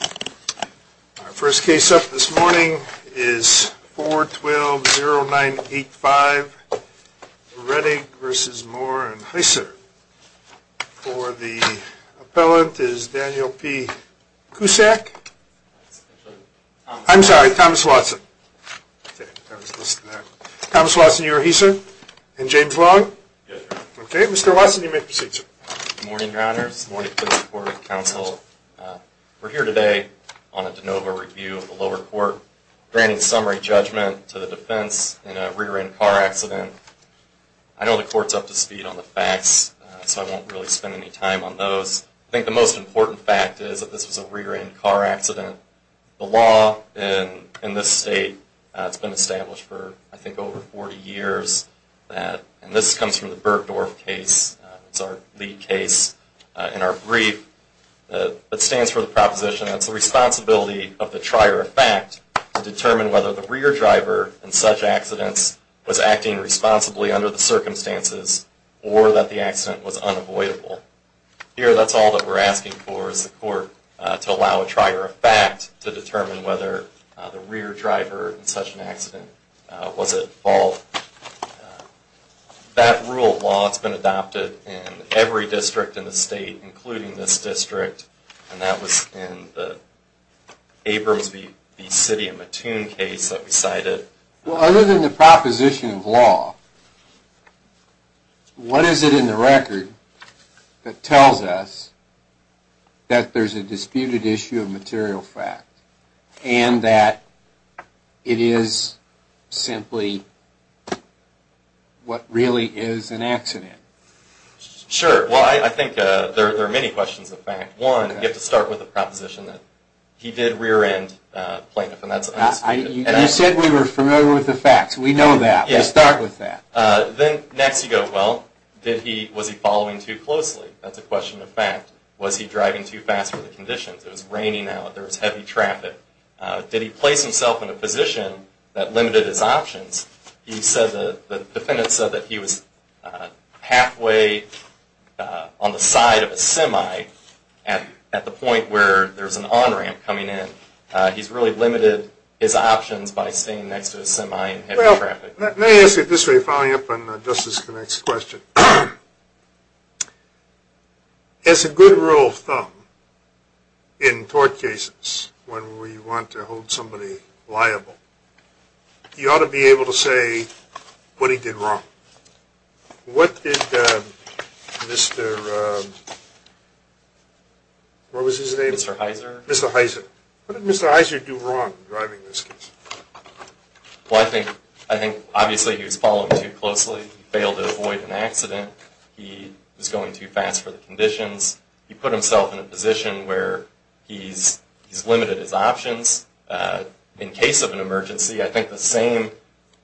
Our first case up this morning is 4-12-09-85, Rettig v. Moore and Heisser. For the appellant is Daniel P. Koussak, I'm sorry, Thomas Watson. Thomas Watson, you are he, sir? And James Long? Yes, sir. Okay, Mr. Watson, you may proceed, sir. Good morning, Your Honors. Good morning, please report with counsel. We're here today on a de novo review of the lower court, granting summary judgment to the defense in a rear-end car accident. I know the court's up to speed on the facts, so I won't really spend any time on those. I think the most important fact is that this was a rear-end car accident. The law in this state has been established for, I think, over 40 years. And this comes from the Bergdorf case, it's our lead case in our brief, that stands for the proposition that it's the responsibility of the trier of fact to determine whether the rear driver in such accidents was acting responsibly under the circumstances or that the accident was unavoidable. Here, that's all that we're asking for is the court to allow a trier of fact to determine whether the rear driver in such an accident was at fault. That rule of law has been adopted in every district in the state, including this district, and that was in the Abrams v. City of Mattoon case that we cited. Well, other than the proposition of law, what is it in the record that tells us that there's a disputed issue of material fact and that it is simply what really is an accident? Sure. Well, I think there are many questions of fact. One, you have to start with the proposition that he did rear-end the plaintiff, and that's an understatement. You said we were familiar with the facts. We know that. We'll start with that. Then, next, you go, well, was he following too closely? That's a question of fact. Was he driving too fast for the conditions? It was raining out. There was heavy traffic. Did he place himself in a position that limited his options? You said the defendant said that he was halfway on the side of a semi at the point where there's an on-ramp coming in. He's really limited his options by staying next to a semi in heavy traffic. Well, let me ask you this way, following up on Justice Connick's question. As a good rule of thumb in tort cases, when we want to hold somebody liable, you ought to be able to say what he did wrong. What did Mr., what was his name? Mr. Heiser. Mr. Heiser. What did Mr. Heiser do wrong driving this case? Well, I think, obviously, he was following too closely. He failed to avoid an accident. He was going too fast for the conditions. He put himself in a position where he's limited his options. In case of an emergency, I think the same,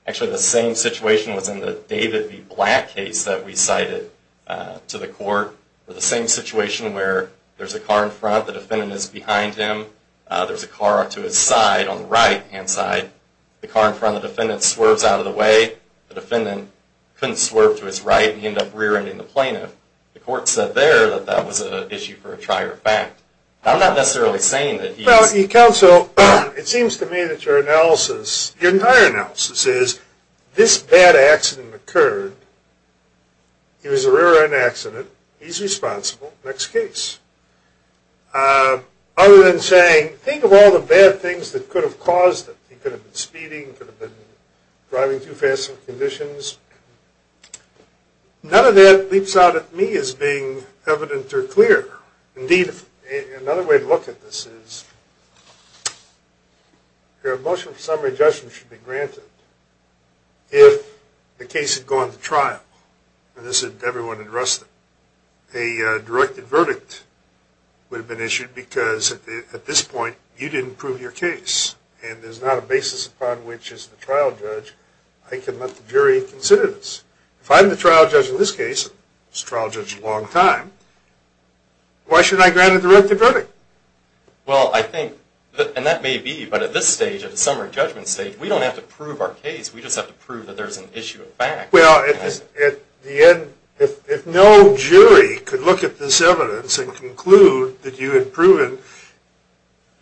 actually the same situation was in the David v. Black case that we cited to the court. The same situation where there's a car in front, the defendant is behind him, there's a car to his side on the right-hand side, the car in front of the defendant swerves out of the way, the defendant couldn't swerve to his right, and he ended up rear-ending the plaintiff. The court said there that that was an issue for a trier of fact. I'm not necessarily saying that he's... Well, counsel, it seems to me that your analysis, your entire analysis is, this bad accident occurred, it was a rear-end accident, he's responsible, next case. Other than saying, think of all the bad things that could have caused it. He could have been speeding, could have been driving too fast for the conditions. None of that leaps out at me as being evident or clear. Indeed, another way to look at this is, your motion for summary judgment should be granted if the case had gone to trial. As everyone addressed it, a directed verdict would have been issued because, at this point, you didn't prove your case, and there's not a basis upon which, as the trial judge, I can let the jury consider this. If I'm the trial judge in this case, and this trial judge is a long time, why should I grant a directed verdict? Well, I think, and that may be, but at this stage, at the summary judgment stage, we don't have to prove our case, we just have to prove that there's an issue of fact. Well, at the end, if no jury could look at this evidence and conclude that you had proven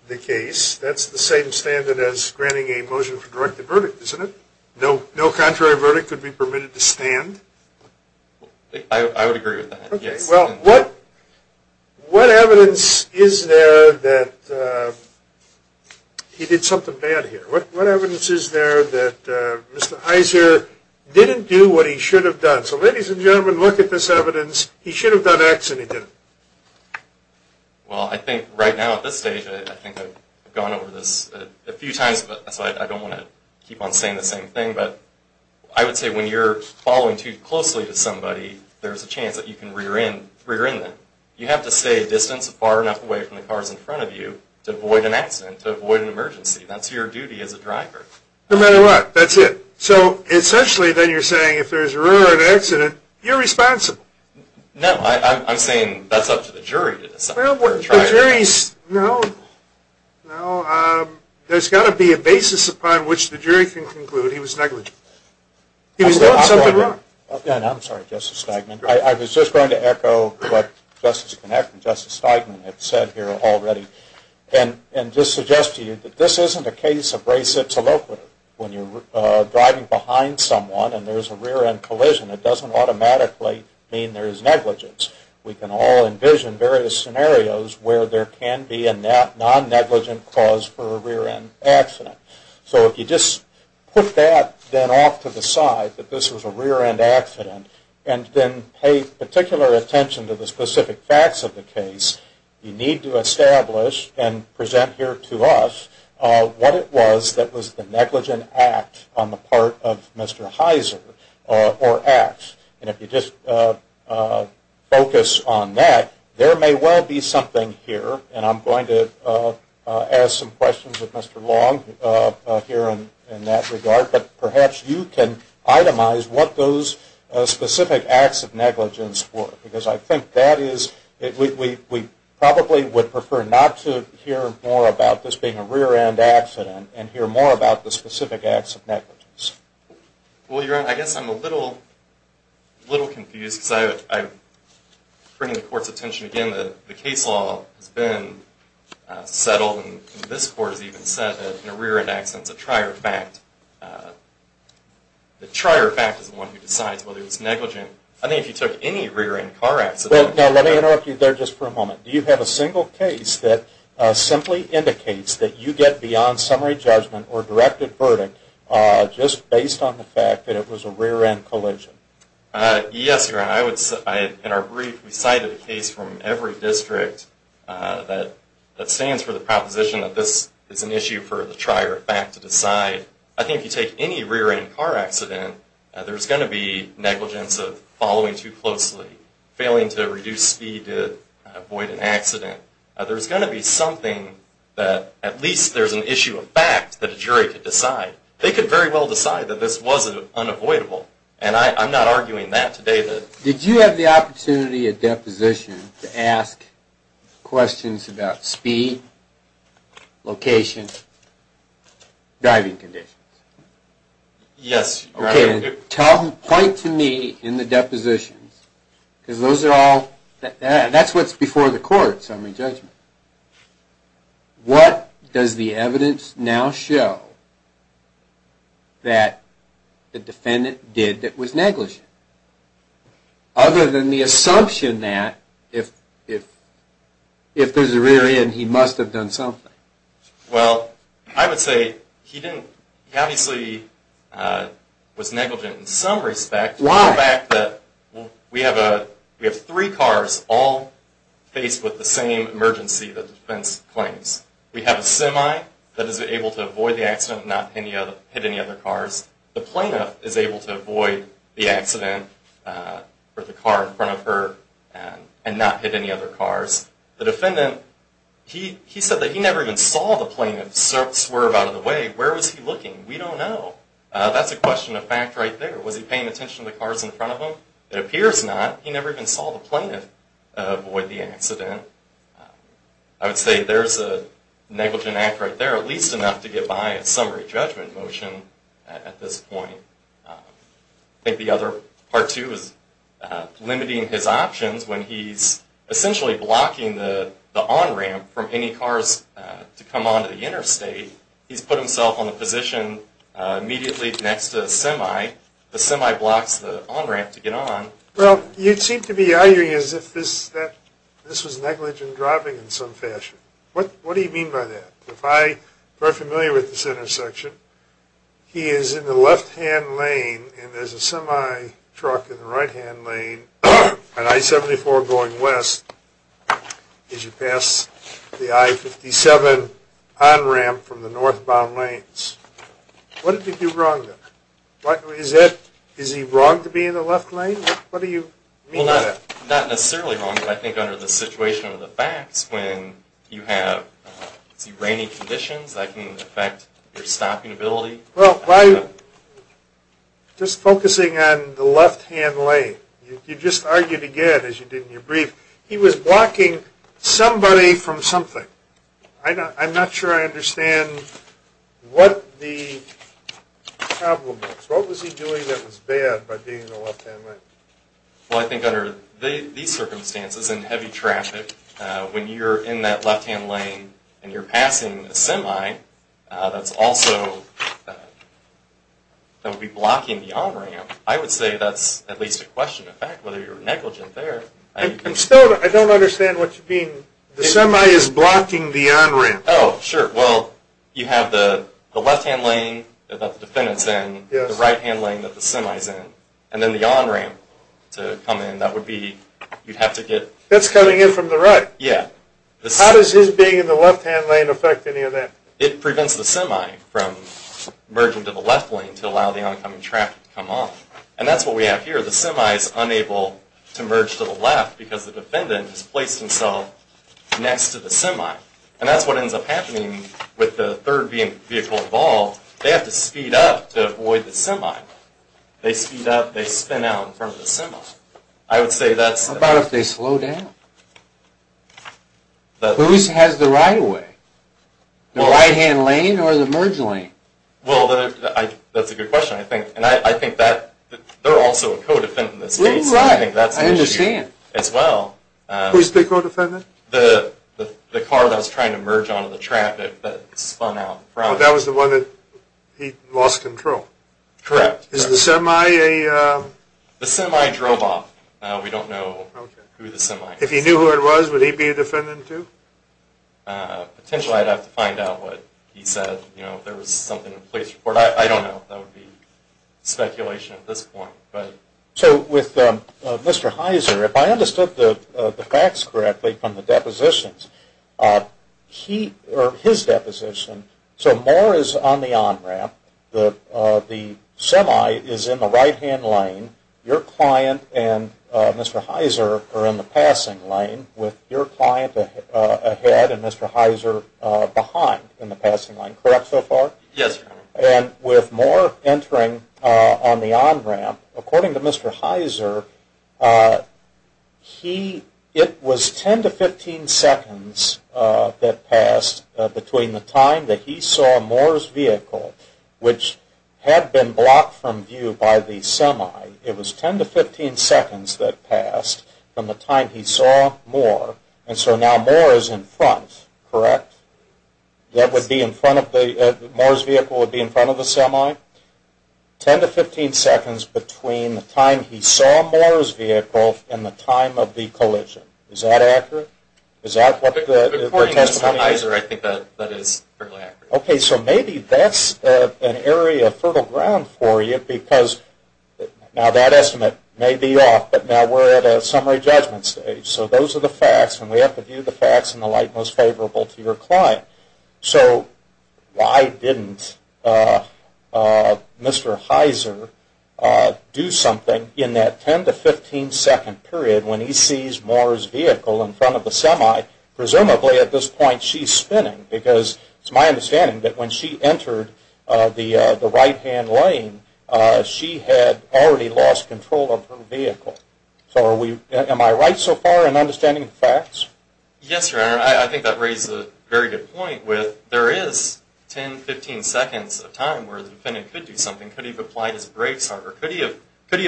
the case, that's the same standard as granting a motion for directed verdict, isn't it? No contrary verdict could be permitted to stand? I would agree with that, yes. Well, what evidence is there that he did something bad here? What evidence is there that Mr. Iser didn't do what he should have done? So, ladies and gentlemen, look at this evidence. He should have done X and he didn't. Well, I think right now, at this stage, I think I've gone over this a few times, so I don't want to keep on saying the same thing, but I would say when you're following too closely to somebody, there's a chance that you can rear end them. You have to stay a distance far enough away from the cars in front of you to avoid an accident, to avoid an emergency. That's your duty as a driver. No matter what, that's it. So, essentially, then you're saying if there's a rear end accident, you're responsible. No, I'm saying that's up to the jury to decide. Well, the jury's, no, no. There's got to be a basis upon which the jury can conclude he was negligent. He was doing something wrong. I'm sorry, Justice Steigman. I was just going to echo what Justice Kinnick and Justice Steigman have said here already and just suggest to you that this isn't a case of res ipsa loquitur. When you're driving behind someone and there's a rear end collision, it doesn't automatically mean there's negligence. We can all envision various scenarios where there can be a non-negligent cause for a rear end accident. So if you just put that then off to the side, that this was a rear end accident, and then pay particular attention to the specific facts of the case, you need to establish and present here to us what it was that was the negligent act on the part of Mr. Heiser, or act. And if you just focus on that, there may well be something here, and I'm going to ask some questions of Mr. Long here in that regard, but perhaps you can itemize what those specific acts of negligence were. Because I think that is, we probably would prefer not to hear more about this being a rear end accident and hear more about the specific acts of negligence. Well, Your Honor, I guess I'm a little confused because I'm bringing the Court's attention again. The case law has been settled, and this Court has even said that a rear end accident is a trier fact. The trier fact is the one who decides whether it's negligent. I think if you took any rear end car accident... Now, let me interrupt you there just for a moment. Do you have a single case that simply indicates that you get beyond summary judgment or directed verdict just based on the fact that it was a rear end collision? Yes, Your Honor. In our brief, we cited a case from every district that stands for the proposition that this is an issue for the trier fact to decide. I think if you take any rear end car accident, there's going to be negligence of following too closely, failing to reduce speed to avoid an accident. There's going to be something that at least there's an issue of fact that a jury could decide. They could very well decide that this was unavoidable, and I'm not arguing that today. Did you have the opportunity at deposition to ask questions about speed, location, driving conditions? Yes, Your Honor. Point to me in the depositions, because those are all... That's what's before the court, summary judgment. What does the evidence now show that the defendant did that was negligent? Other than the assumption that if there's a rear end, he must have done something. Well, I would say he obviously was negligent in some respect. Why? Because of the fact that we have three cars all faced with the same emergency that the defense claims. We have a semi that is able to avoid the accident and not hit any other cars. The plaintiff is able to avoid the accident with the car in front of her and not hit any other cars. The defendant, he said that he never even saw the plaintiff swerve out of the way. Where was he looking? We don't know. That's a question of fact right there. Was he paying attention to the cars in front of him? It appears not. He never even saw the plaintiff avoid the accident. I would say there's a negligent act right there, at least enough to get by a summary judgment motion at this point. I think the other part, too, is limiting his options when he's essentially blocking the on-ramp from any cars to come onto the interstate. He's put himself on the position immediately next to the semi. The semi blocks the on-ramp to get on. Well, you'd seem to be arguing as if this was negligent driving in some fashion. What do you mean by that? If I'm familiar with this intersection, he is in the left-hand lane and there's a semi truck in the right-hand lane, an I-74 going west. As you pass the I-57 on-ramp from the northbound lanes. What did he do wrong there? Is he wrong to be in the left lane? What do you mean by that? Well, not necessarily wrong, but I think under the situation of the facts, when you have rainy conditions, that can affect your stopping ability. Well, just focusing on the left-hand lane, you just argued again, as you did in your brief, he was blocking somebody from something. I'm not sure I understand what the problem is. What was he doing that was bad by being in the left-hand lane? Well, I think under these circumstances in heavy traffic, when you're in that left-hand lane and you're passing a semi, that's also blocking the on-ramp. I would say that's at least a question of fact, whether you're negligent there. I don't understand what you mean. The semi is blocking the on-ramp. Oh, sure. Well, you have the left-hand lane that the defendant's in, the right-hand lane that the semi's in, and then the on-ramp to come in. That would be, you'd have to get... That's coming in from the right. Yeah. How does his being in the left-hand lane affect any of that? It prevents the semi from merging to the left lane to allow the oncoming traffic to come off. And that's what we have here. The semi is unable to merge to the left because the defendant has placed himself next to the semi. And that's what ends up happening with the third vehicle involved. They have to speed up to avoid the semi. They speed up, they spin out in front of the semi. I would say that's... What about if they slow down? Whose has the right-of-way? The right-hand lane or the merge lane? Well, that's a good question, I think. They're also a co-defendant in this case. I think that's an issue as well. Who's the co-defendant? The car that was trying to merge onto the traffic that spun out in front. That was the one that he lost control? Correct. Is the semi a... The semi drove off. We don't know who the semi is. If he knew who it was, would he be a defendant too? Potentially, I'd have to find out what he said. You know, if there was something in the police report. I don't know. That would be speculation at this point. So with Mr. Heiser, if I understood the facts correctly from the depositions, his deposition, so Moore is on the on-ramp. The semi is in the right-hand lane. Your client and Mr. Heiser are in the passing lane with your client ahead and Mr. Heiser behind in the passing lane. Correct so far? Yes, Your Honor. And with Moore entering on the on-ramp, according to Mr. Heiser, it was 10 to 15 seconds that passed between the time that he saw Moore's vehicle, which had been blocked from view by the semi. It was 10 to 15 seconds that passed from the time he saw Moore, and so now Moore is in front, correct? Moore's vehicle would be in front of the semi? 10 to 15 seconds between the time he saw Moore's vehicle and the time of the collision. Is that accurate? According to Mr. Heiser, I think that is fairly accurate. Okay, so maybe that's an area of fertile ground for you because now that estimate may be off, but now we're at a summary judgment stage. So those are the facts, and we have to view the facts in the light most favorable to your client. So why didn't Mr. Heiser do something in that 10 to 15-second period when he sees Moore's vehicle in front of the semi? Presumably at this point she's spinning because it's my understanding that when she entered the right-hand lane, she had already lost control of her vehicle. Am I right so far in understanding the facts? Yes, Your Honor. I think that raises a very good point. There is 10 to 15 seconds of time where the defendant could do something. Could he have applied his brakes harder? Could he have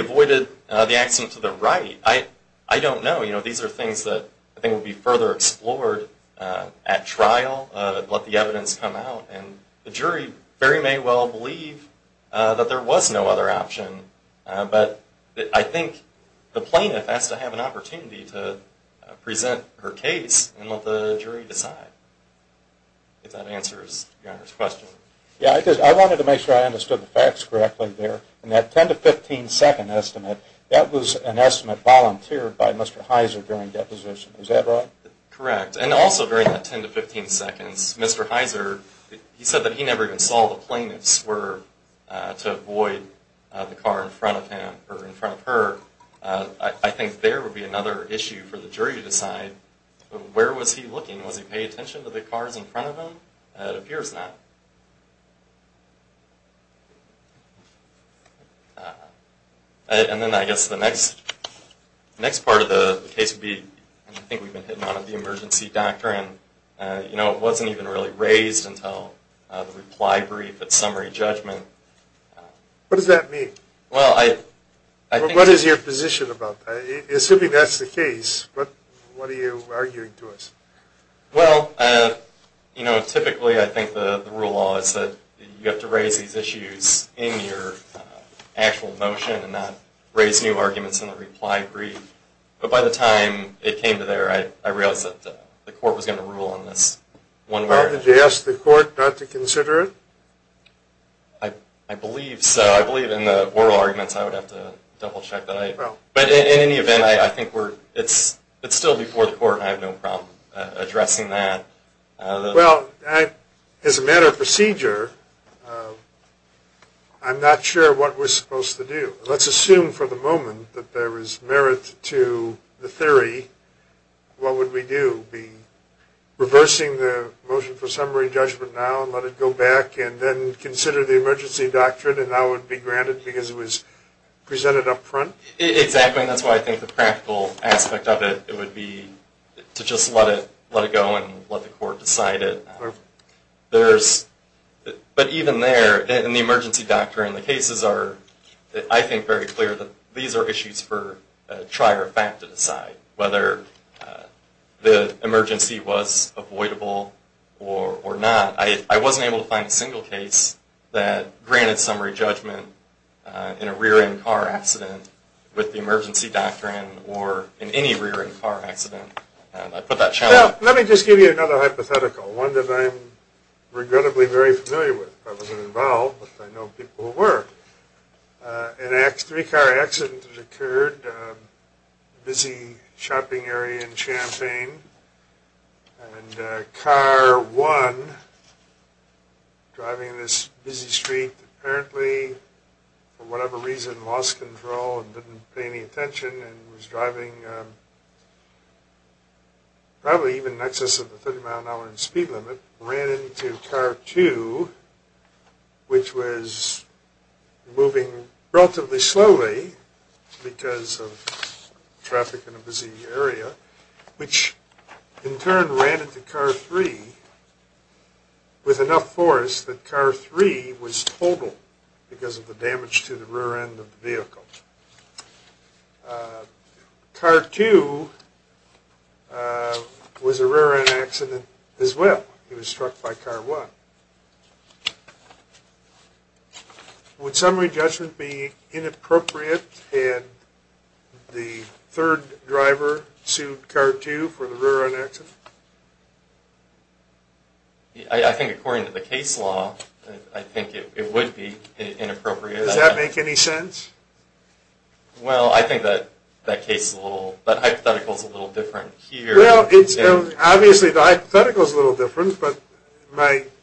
avoided the accident to the right? I don't know. These are things that I think would be further explored at trial, let the evidence come out, and the jury very may well believe that there was no other option. But I think the plaintiff has to have an opportunity to present her case and let the jury decide if that answers Your Honor's question. Yes, I wanted to make sure I understood the facts correctly there. In that 10 to 15-second estimate, that was an estimate volunteered by Mr. Heiser during deposition. Is that right? Correct. And also during that 10 to 15 seconds, Mr. Heiser, he said that he never even saw the plaintiff swerve to avoid the car in front of him or in front of her. I think there would be another issue for the jury to decide where was he looking? Was he paying attention to the cars in front of him? It appears not. And then I guess the next part of the case would be, I think we've been hitting on it, the emergency doctor. It wasn't even really raised until the reply brief at summary judgment. What does that mean? What is your position about that? Assuming that's the case, what are you arguing to us? Well, typically I think the rule of law is that you have to raise these issues in your actual motion and not raise new arguments in the reply brief. But by the time it came to there, I realized that the court was going to rule on this one way or another. Did you ask the court not to consider it? I believe so. I believe in the oral arguments I would have to double check. But in any event, I think it's still before the court and I have no problem addressing that. Well, as a matter of procedure, I'm not sure what we're supposed to do. Let's assume for the moment that there is merit to the theory. What would we do? Be reversing the motion for summary judgment now and let it go back and then consider the emergency doctrine and now it would be granted because it was presented up front? Exactly. That's why I think the practical aspect of it would be to just let it go and let the court decide it. But even there, in the emergency doctrine, the cases are, I think, very clear. These are issues for a trier of fact to decide whether the emergency was avoidable or not. I wasn't able to find a single case that granted summary judgment in a rear-end car accident with the emergency doctrine or in any rear-end car accident. Let me just give you another hypothetical. One that I'm regrettably very familiar with. I wasn't involved, but I know people were. Three car accidents occurred. Busy shopping area in Champaign and car one driving this busy street, apparently for whatever reason lost control and didn't pay any attention and was driving probably even in excess of the 30 mile an hour speed limit, ran into car two, which was moving relatively slowly because of traffic in a busy area, which in turn ran into car three with enough force that car three was totaled because of the damage to the rear end of the vehicle. Car two was a rear-end accident as well. It was struck by car one. Would summary judgment be inappropriate had the third driver sued car two for the rear-end accident? I think according to the case law, I think it would be inappropriate. Does that make any sense? Well, I think that hypothetical is a little different here. Well, obviously the hypothetical is a little different, but the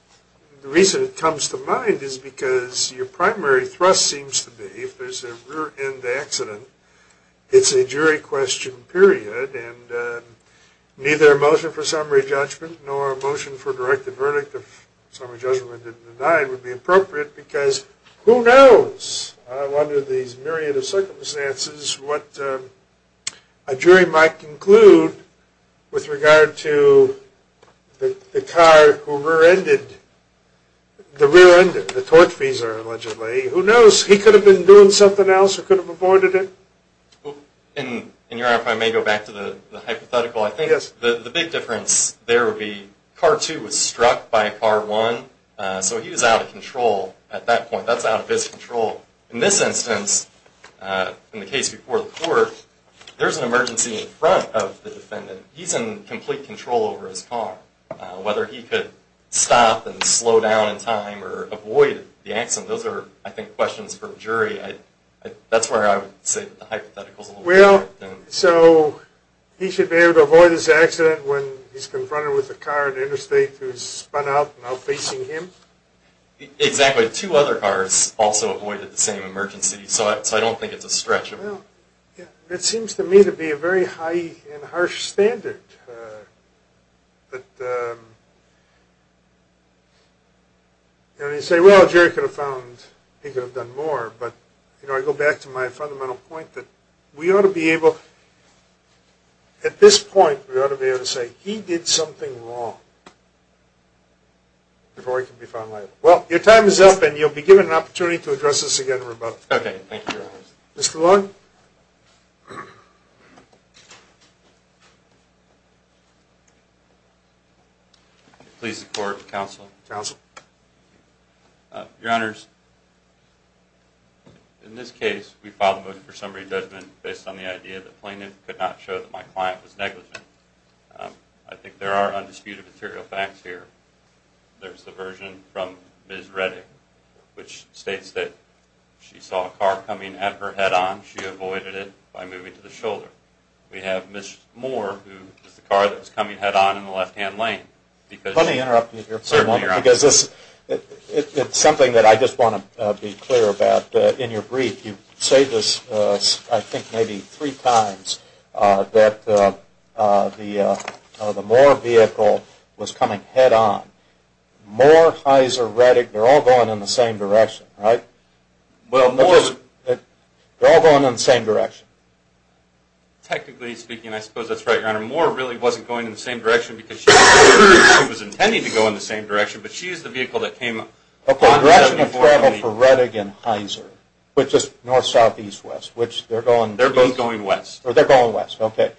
reason it comes to mind is because your primary thrust seems to be if there's a rear-end accident, it's a jury question period, and neither a motion for summary judgment nor a motion for a directed verdict of summary judgment denied would be appropriate because who knows under these myriad of circumstances what a jury might conclude with regard to the car who rear-ended, the rear-ended, the torque-feeser allegedly. Who knows? He could have been doing something else or could have aborted it. And, Your Honor, if I may go back to the hypothetical, I think the big difference there would be car two was struck by car one, so he was out of control at that point. That's out of his control. In this instance, in the case before the court, there's an emergency in front of the defendant. He's in complete control over his car. Whether he could stop and slow down in time or avoid the accident, those are, I think, questions for a jury. That's where I would say the hypothetical is a little different. Well, so he should be able to avoid his accident when he's confronted with a car at interstate who's spun out and out facing him? Exactly. Two other cars also avoided the same emergency, so I don't think it's a stretch. Well, it seems to me to be a very high and harsh standard. But, you know, you say, well, Jerry could have found, he could have done more, but, you know, I go back to my fundamental point that we ought to be able, at this point, we ought to be able to say he did something wrong before he could be found liable. Well, your time is up, and you'll be given an opportunity to address this again in rebuttal. Okay, thank you, Your Honor. Mr. Long? Please support counsel. Counsel. Your Honors, in this case, we filed a motion for summary judgment based on the idea that plaintiff could not show that my client was negligent. I think there are undisputed material facts here. There's the version from Ms. Redding, which states that she saw a car coming at her head on. She avoided it by moving to the shoulder. We have Ms. Moore, who is the car that was coming head on in the left-hand lane. Let me interrupt you here for a moment. Certainly, Your Honor. Because it's something that I just want to be clear about. In your brief, you say this, I think, maybe three times, that the Moore vehicle was coming head on. Moore, Heiser, Redding, they're all going in the same direction, right? Well, Moore. They're all going in the same direction. Technically speaking, I suppose that's right, Your Honor. Moore really wasn't going in the same direction because she was intending to go in the same direction, but she used the vehicle that came on 7420. Okay, the direction of travel for Redding and Heiser, which is north, south, east, west. They're both going west. They're going west, okay.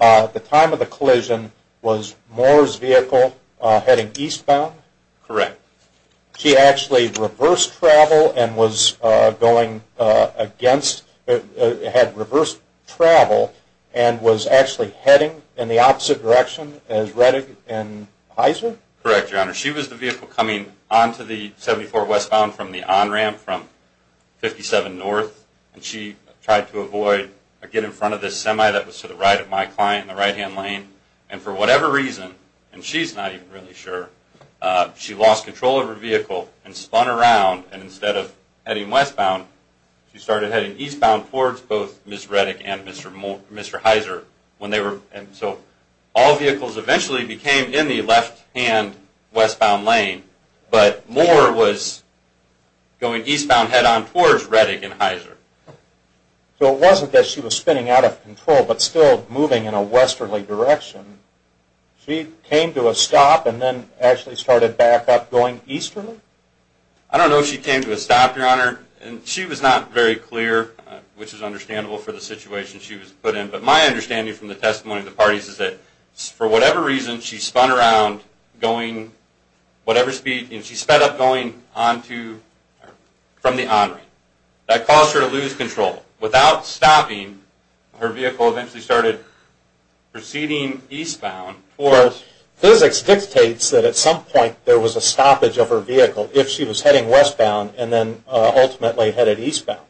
The time of the collision was Moore's vehicle heading eastbound? Correct. She actually reversed travel and was going against, had reversed travel and was actually heading in the opposite direction as Redding and Heiser? Correct, Your Honor. She was the vehicle coming onto the 74 westbound from the on-ramp from 57 north, and she tried to avoid or get in front of this semi that was to the right of my client in the right-hand lane. And for whatever reason, and she's not even really sure, she lost control of her vehicle and spun around, and instead of heading westbound, she started heading eastbound towards both Ms. Redding and Mr. Heiser. And so all vehicles eventually became in the left-hand westbound lane, but Moore was going eastbound head-on towards Redding and Heiser. So it wasn't that she was spinning out of control but still moving in a westerly direction. She came to a stop and then actually started back up going easterly? I don't know if she came to a stop, Your Honor, and she was not very clear, which is understandable for the situation she was put in, but my understanding from the testimony of the parties is that for whatever reason, she spun around going whatever speed, and she sped up going onto, from the on-ramp. That caused her to lose control. Without stopping, her vehicle eventually started proceeding eastbound. Physics dictates that at some point there was a stoppage of her vehicle if she was heading westbound and then ultimately headed eastbound,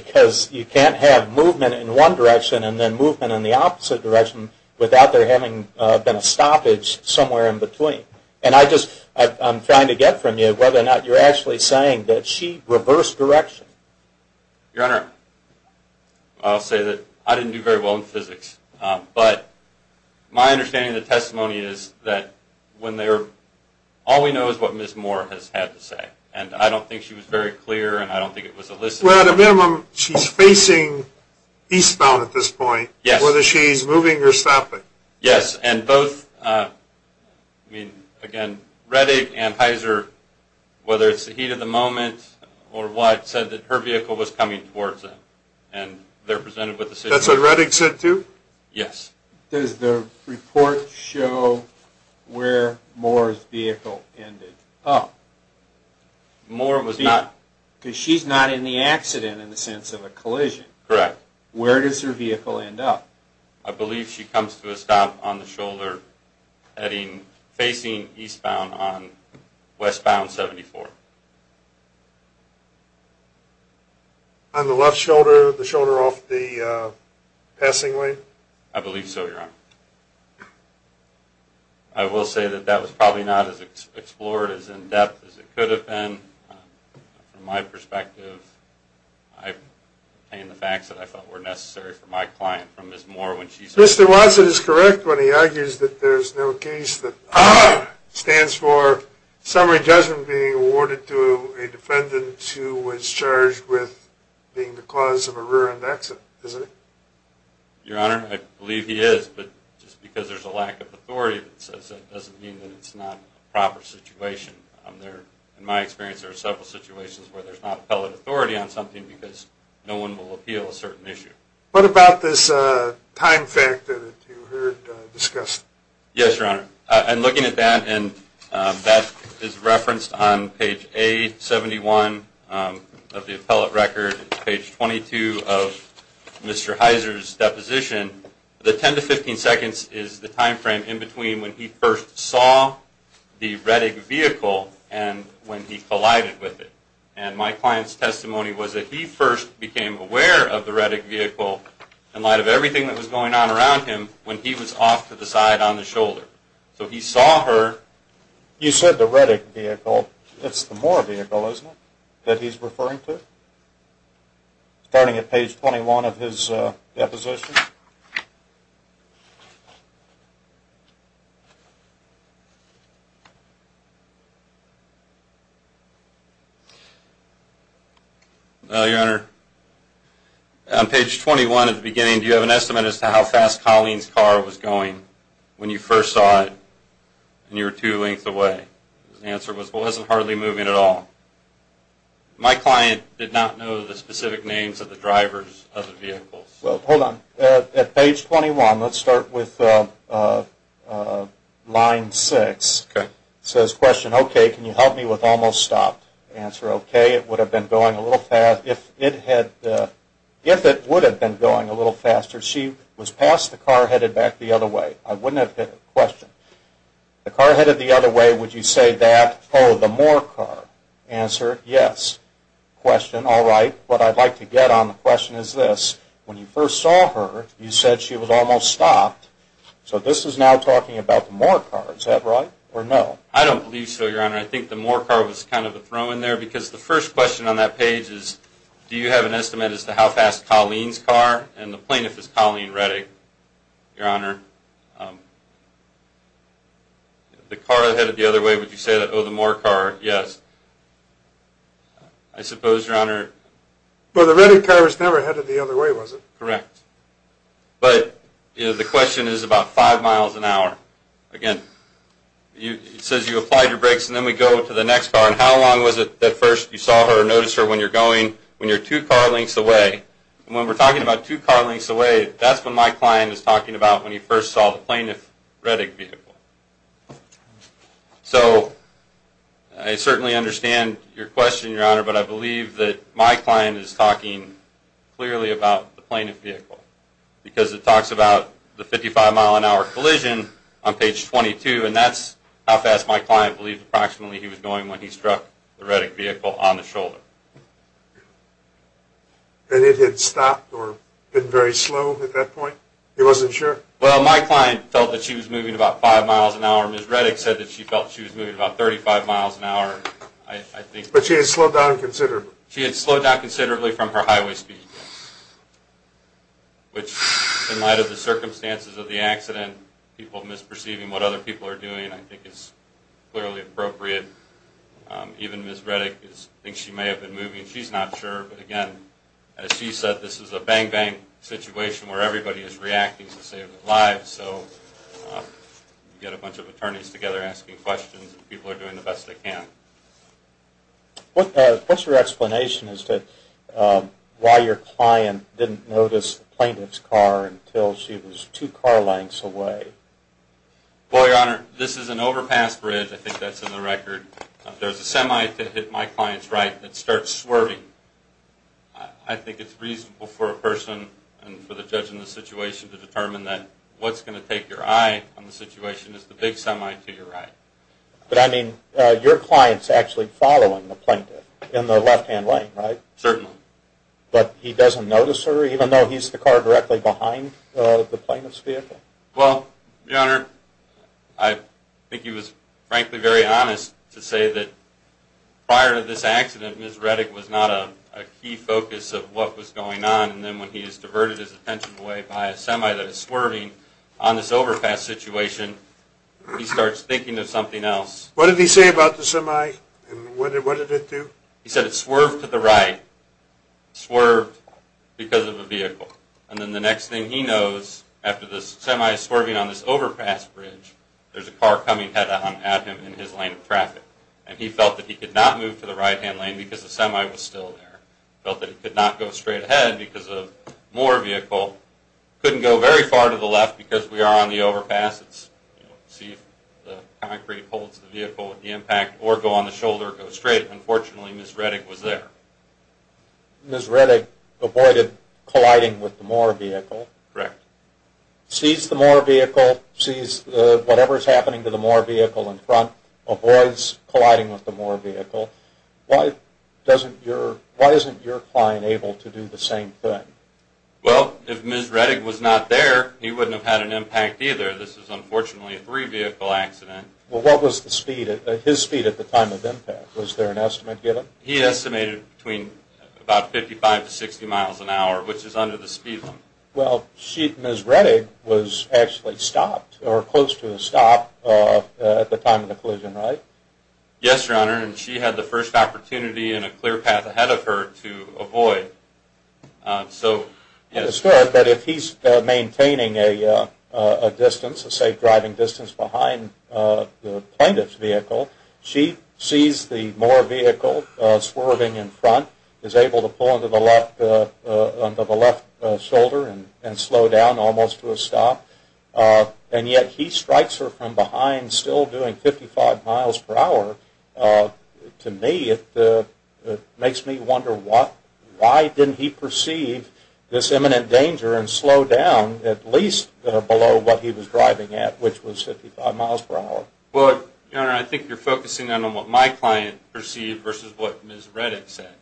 because you can't have movement in one direction and then movement in the opposite direction without there having been a stoppage somewhere in between. I'm trying to get from you whether or not you're actually saying that she reversed direction. Your Honor, I'll say that I didn't do very well in physics, but my understanding of the testimony is that all we know is what Ms. Moore has had to say, and I don't think she was very clear and I don't think it was elicited. Well, at a minimum, she's facing eastbound at this point, whether she's moving or stopping. Yes, and both, I mean, again, Reddick and Heiser, whether it's the heat of the moment or what, said that her vehicle was coming towards them, and they're presented with the situation. That's what Reddick said too? Yes. Does the report show where Moore's vehicle ended? Oh, Moore was not... Because she's not in the accident in the sense of a collision. Correct. Where does her vehicle end up? I believe she comes to a stop on the shoulder facing eastbound on westbound 74. On the left shoulder, the shoulder off the passing lane? I believe so, Your Honor. I will say that that was probably not as explored, as in-depth as it could have been. From my perspective, I obtained the facts that I felt were necessary for my client from Ms. Moore when she said... Mr. Watson is correct when he argues that there's no case that stands for summary judgment being awarded to a defendant who was charged with being the cause of a rear-end accident, isn't it? Your Honor, I believe he is, but just because there's a lack of authority that says that doesn't mean that it's not a proper situation. In my experience, there are several situations where there's not appellate authority on something because no one will appeal a certain issue. What about this time factor that you heard discussed? Yes, Your Honor. I'm looking at that, and that is referenced on page A71 of the appellate record, page 22 of Mr. Heiser's deposition. The 10 to 15 seconds is the time frame in between when he first saw the Reddick vehicle and when he collided with it. And my client's testimony was that he first became aware of the Reddick vehicle in light of everything that was going on around him when he was off to the side on the shoulder. So he saw her... You said the Reddick vehicle. It's the Moore vehicle, isn't it, that he's referring to? Starting at page 21 of his deposition. No, Your Honor. On page 21 at the beginning, do you have an estimate as to how fast Colleen's car was going when you first saw it and you were two lengths away? His answer was, well, it wasn't hardly moving at all. My client did not know the specific names of the drivers of the vehicles. Well, hold on. At page 21, let's start with line 6. Okay. It says, question, okay, can you help me with almost stopped? Answer, okay, it would have been going a little fast. If it had... If it would have been going a little faster, she was past the car headed back the other way. I wouldn't have hit the question. The car headed the other way, would you say that? Oh, the Moore car. Answer, yes. Question, all right. What I'd like to get on the question is this. When you first saw her, you said she was almost stopped. So this is now talking about the Moore car. Is that right or no? I don't believe so, Your Honor. I think the Moore car was kind of a throw in there because the first question on that page is, do you have an estimate as to how fast Colleen's car, and the plaintiff is Colleen Reddick, Your Honor. The car headed the other way, would you say that? Oh, the Moore car, yes. I suppose, Your Honor... But the Reddick car was never headed the other way, was it? Correct. But the question is about five miles an hour. Again, it says you applied your brakes and then we go to the next car. And how long was it at first you saw her or noticed her when you're going, when you're two car lengths away? And when we're talking about two car lengths away, that's what my client is talking about when he first saw the plaintiff's Reddick vehicle. So I certainly understand your question, Your Honor, but I believe that my client is talking clearly about the plaintiff's vehicle because it talks about the 55-mile-an-hour collision on page 22, and that's how fast my client believed approximately he was going when he struck the Reddick vehicle on the shoulder. And it had stopped or been very slow at that point? He wasn't sure? Well, my client felt that she was moving about five miles an hour. Ms. Reddick said that she felt she was moving about 35 miles an hour, I think. But she had slowed down considerably? She had slowed down considerably from her highway speed, which in light of the circumstances of the accident, people misperceiving what other people are doing, I think is clearly appropriate. Even Ms. Reddick thinks she may have been moving. She's not sure, but again, as she said, this is a bang-bang situation where everybody is reacting to save their lives. So you get a bunch of attorneys together asking questions, and people are doing the best they can. What's your explanation as to why your client didn't notice the plaintiff's car until she was two car lengths away? Well, Your Honor, this is an overpass bridge. I think that's in the record. There's a semi that hit my client's right that starts swerving. I think it's reasonable for a person and for the judge in the situation to determine that what's going to take your eye on the situation is the big semi to your right. But I mean, your client's actually following the plaintiff in the left-hand lane, right? Certainly. But he doesn't notice her, even though he's the car directly behind the plaintiff's vehicle? Well, Your Honor, I think he was frankly very honest to say that prior to this accident, Ms. Reddick was not a key focus of what was going on, and then when he has diverted his attention away by a semi that is swerving on this overpass situation, he starts thinking of something else. What did he say about the semi, and what did it do? He said it swerved to the right, swerved because of a vehicle. And then the next thing he knows, after the semi is swerving on this overpass bridge, there's a car coming at him in his lane of traffic, and he felt that he could not move to the right-hand lane because the semi was still there. He felt that he could not go straight ahead because of more vehicle. He couldn't go very far to the left because we are on the overpass. It's, you know, see if the concrete holds the vehicle at the impact or go on the shoulder or go straight. Unfortunately, Ms. Reddick was there. Ms. Reddick avoided colliding with the more vehicle. Correct. Sees the more vehicle, sees whatever is happening to the more vehicle in front, avoids colliding with the more vehicle. Why isn't your client able to do the same thing? Well, if Ms. Reddick was not there, he wouldn't have had an impact either. This is, unfortunately, a three-vehicle accident. Well, what was his speed at the time of impact? Was there an estimate given? He estimated between about 55 to 60 miles an hour, which is under the speed limit. Well, Ms. Reddick was actually stopped or close to a stop at the time of the collision, right? Yes, Your Honor, and she had the first opportunity and a clear path ahead of her to avoid. So, yes. But if he's maintaining a distance, a safe driving distance behind the plaintiff's vehicle, she sees the more vehicle swerving in front, is able to pull under the left shoulder and slow down almost to a stop. And yet he strikes her from behind, still doing 55 miles per hour. To me, it makes me wonder why didn't he perceive this imminent danger and slow down at least below what he was driving at, which was 55 miles per hour. Well, Your Honor, I think you're focusing on what my client perceived versus what Ms. Reddick said.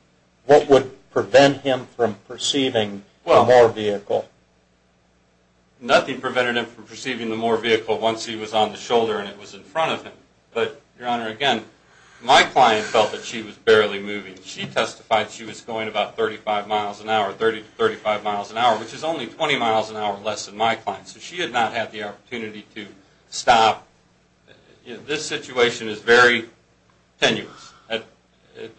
What would prevent him from perceiving the more vehicle? Nothing prevented him from perceiving the more vehicle once he was on the shoulder and it was in front of him. But, Your Honor, again, my client felt that she was barely moving. She testified she was going about 35 miles an hour, 30 to 35 miles an hour, which is only 20 miles an hour less than my client. So she had not had the opportunity to stop. This situation is very tenuous.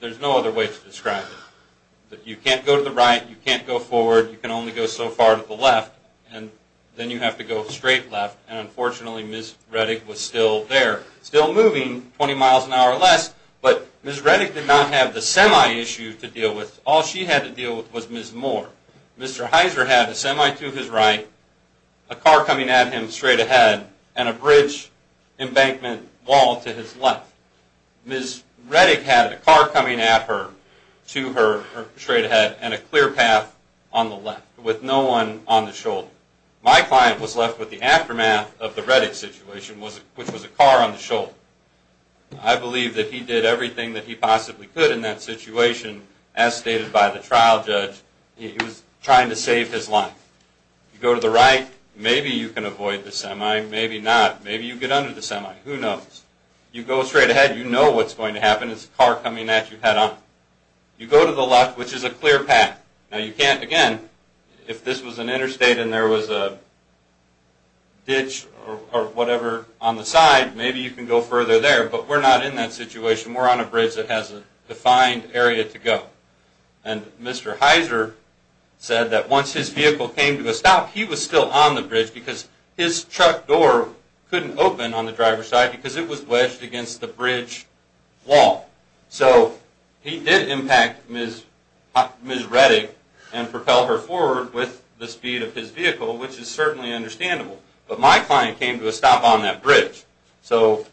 There's no other way to describe it. You can't go to the right. You can't go forward. You can only go so far to the left. And then you have to go straight left. And unfortunately, Ms. Reddick was still there, still moving 20 miles an hour or less. But Ms. Reddick did not have the semi issue to deal with. All she had to deal with was Ms. Moore. Mr. Heiser had a semi to his right, a car coming at him straight ahead, and a bridge embankment wall to his left. Ms. Reddick had a car coming at her, to her, straight ahead, and a clear path on the left with no one on the shoulder. My client was left with the aftermath of the Reddick situation, which was a car on the shoulder. I believe that he did everything that he possibly could in that situation. As stated by the trial judge, he was trying to save his life. You go to the right, maybe you can avoid the semi, maybe not. Maybe you get under the semi. Who knows? You go straight ahead, you know what's going to happen. It's a car coming at you head on. You go to the left, which is a clear path. Now you can't, again, if this was an interstate and there was a ditch or whatever on the side, maybe you can go further there, but we're not in that situation. We're on a bridge that has a defined area to go. And Mr. Heiser said that once his vehicle came to a stop, he was still on the bridge because his truck door couldn't open on the driver's side because it was wedged against the bridge wall. So he did impact Ms. Reddick and propel her forward with the speed of his vehicle, which is certainly understandable, but my client came to a stop on that bridge. So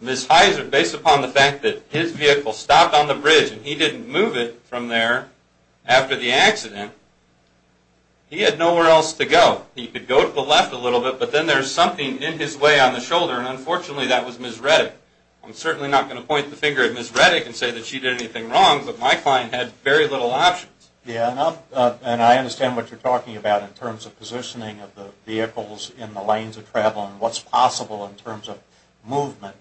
Ms. Heiser, based upon the fact that his vehicle stopped on the bridge and he didn't move it from there after the accident, he had nowhere else to go. He could go to the left a little bit, but then there's something in his way on the shoulder, and unfortunately that was Ms. Reddick. I'm certainly not going to point the finger at Ms. Reddick and say that she did anything wrong, but my client had very little options. Yeah, and I understand what you're talking about in terms of positioning of the vehicles in the lanes of travel and what's possible in terms of movement.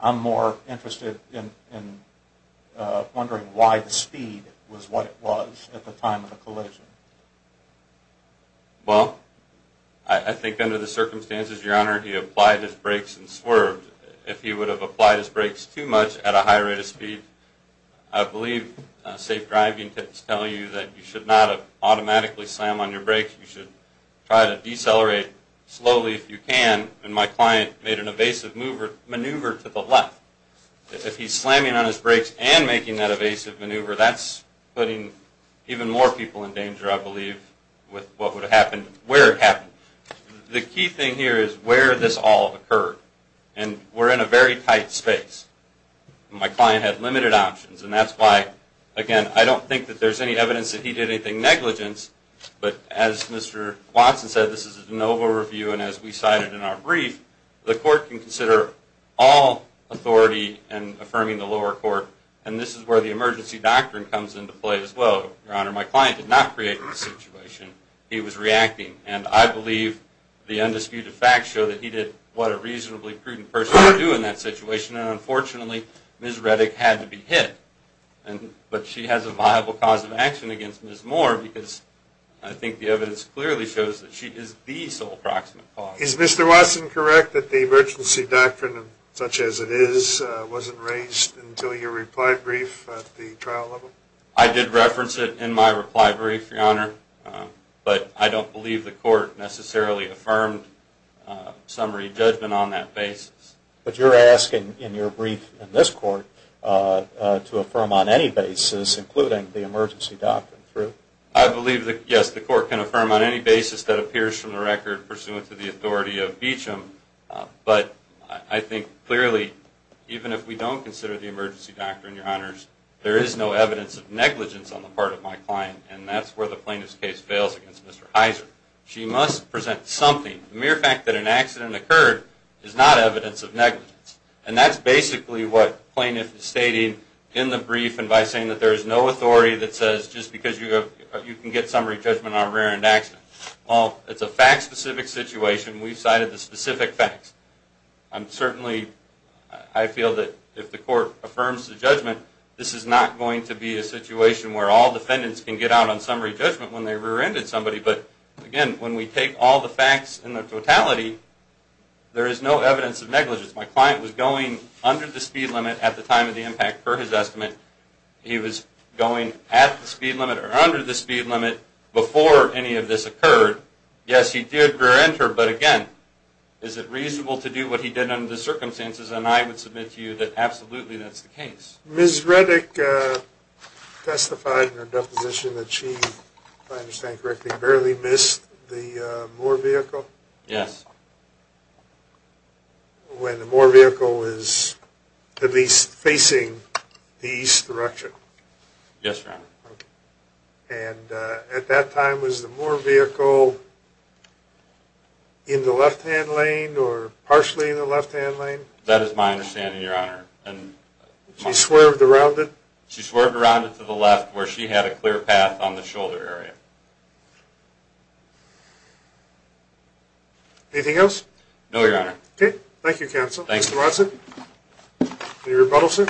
I'm more interested in wondering why the speed was what it was at the time of the collision. Well, I think under the circumstances, Your Honor, he applied his brakes and swerved. If he would have applied his brakes too much at a high rate of speed, I believe safe driving tips tell you that you should not automatically slam on your brakes. You should try to decelerate slowly if you can, and my client made an evasive maneuver to the left. If he's slamming on his brakes and making that evasive maneuver, that's putting even more people in danger, I believe, with what would have happened where it happened. The key thing here is where this all occurred, and we're in a very tight space. My client had limited options, and that's why, again, I don't think that there's any evidence that he did anything negligent, but as Mr. Watson said, this is a de novo review, and as we cited in our brief, the court can consider all authority in affirming the lower court, and this is where the emergency doctrine comes into play as well. Your Honor, my client did not create this situation. He was reacting, and I believe the undisputed facts show that he did what a reasonably prudent person would do in that situation, and unfortunately, Ms. Reddick had to be hit, but she has a viable cause of action against Ms. Moore because I think the evidence clearly shows that she is the sole proximate cause. Is Mr. Watson correct that the emergency doctrine, such as it is, wasn't raised until your reply brief at the trial level? I did reference it in my reply brief, Your Honor, but I don't believe the court necessarily affirmed summary judgment on that basis. But you're asking in your brief in this court to affirm on any basis, including the emergency doctrine, true? I believe that, yes, the court can affirm on any basis that appears from the record pursuant to the authority of Beecham, but I think clearly, even if we don't consider the emergency doctrine, Your Honors, there is no evidence of negligence on the part of my client, and that's where the plaintiff's case fails against Mr. Heiser. She must present something. The mere fact that an accident occurred is not evidence of negligence, and that's basically what the plaintiff is stating in the brief, and by saying that there is no authority that says just because you can get summary judgment on a rear-end accident. Well, it's a fact-specific situation. We've cited the specific facts. Certainly, I feel that if the court affirms the judgment, this is not going to be a situation where all defendants can get out on summary judgment when they rear-ended somebody, but again, when we take all the facts in their totality, there is no evidence of negligence. My client was going under the speed limit at the time of the impact per his estimate. He was going at the speed limit or under the speed limit before any of this occurred. Yes, he did rear-enter, but again, is it reasonable to do what he did under the circumstances? And I would submit to you that absolutely that's the case. Ms. Redick testified in her deposition that she, if I understand correctly, barely missed the Moore vehicle? Yes. When the Moore vehicle was at least facing the east direction? Yes, Your Honor. And at that time, was the Moore vehicle in the left-hand lane or partially in the left-hand lane? That is my understanding, Your Honor. She swerved around it? She swerved around it to the left where she had a clear path on the shoulder area. Anything else? No, Your Honor. Okay, thank you, counsel. Mr. Watson, any rebuttals, sir?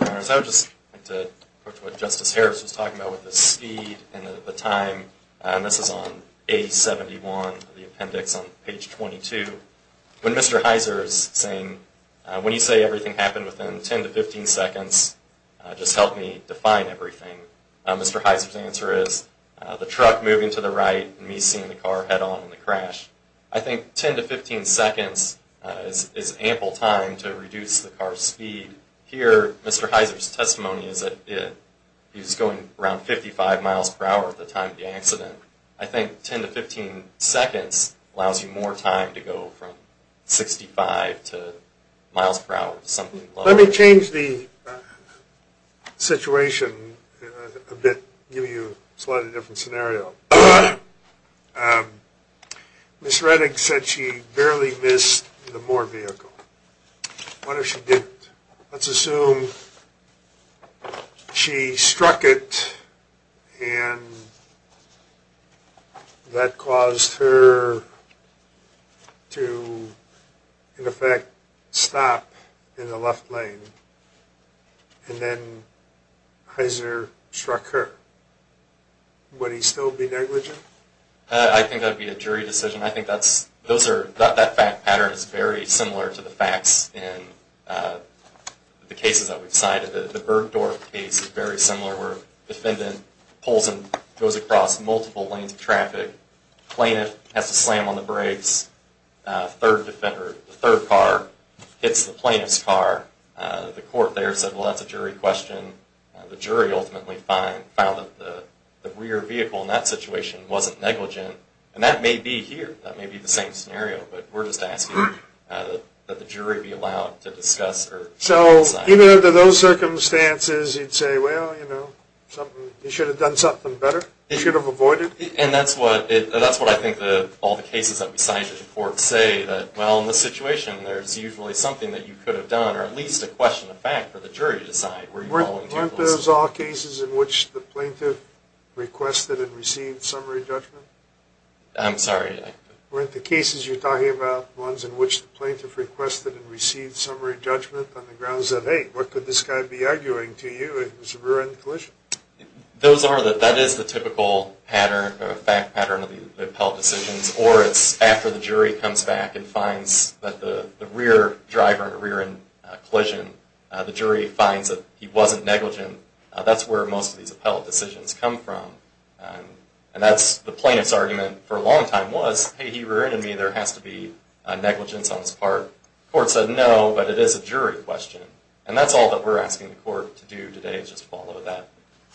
Your Honor, I would just like to quote what Justice Harris was talking about with the speed and the time, and this is on A71, the appendix on page 22. When Mr. Heiser is saying, when you say everything happened within 10 to 15 seconds, just help me define everything, Mr. Heiser's answer is, the truck moving to the right and me seeing the car head-on in the crash. I think 10 to 15 seconds is ample time to reduce the car's speed. What I would hear Mr. Heiser's testimony is that he was going around 55 miles per hour at the time of the accident. I think 10 to 15 seconds allows you more time to go from 65 to miles per hour, something like that. Let me change the situation a bit, give you a slightly different scenario. Ms. Reddick said she barely missed the Moore vehicle. What if she didn't? Let's assume she struck it and that caused her to, in effect, stop in the left lane, and then Heiser struck her. Would he still be negligent? I think that would be a jury decision. I think that fact pattern is very similar to the facts in the cases that we've cited. The Bergdorf case is very similar where a defendant pulls and goes across multiple lanes of traffic. The plaintiff has to slam on the brakes. The third car hits the plaintiff's car. The court there said, well, that's a jury question. The jury ultimately found that the rear vehicle in that situation wasn't negligent, and that may be here. That may be the same scenario, but we're just asking that the jury be allowed to discuss or decide. So even under those circumstances, you'd say, well, you should have done something better? You should have avoided it? And that's what I think all the cases that we cite in court say, that, well, in this situation, there's usually something that you could have done or at least a question of fact for the jury to decide. Weren't those all cases in which the plaintiff requested and received summary judgment? I'm sorry? Weren't the cases you're talking about ones in which the plaintiff requested and received summary judgment on the grounds of, hey, what could this guy be arguing to you? It was a rear-end collision. Those are the – that is the typical pattern, fact pattern of the appellate decisions, or it's after the jury comes back and finds that the rear driver in a rear-end collision, the jury finds that he wasn't negligent. That's where most of these appellate decisions come from. And that's the plaintiff's argument for a long time was, hey, he rear-ended me. There has to be negligence on his part. The court said no, but it is a jury question. And that's all that we're asking the court to do today is just follow that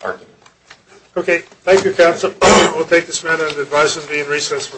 argument. Okay. Thank you, counsel. We'll take this matter into advisement and be in recess for a few moments.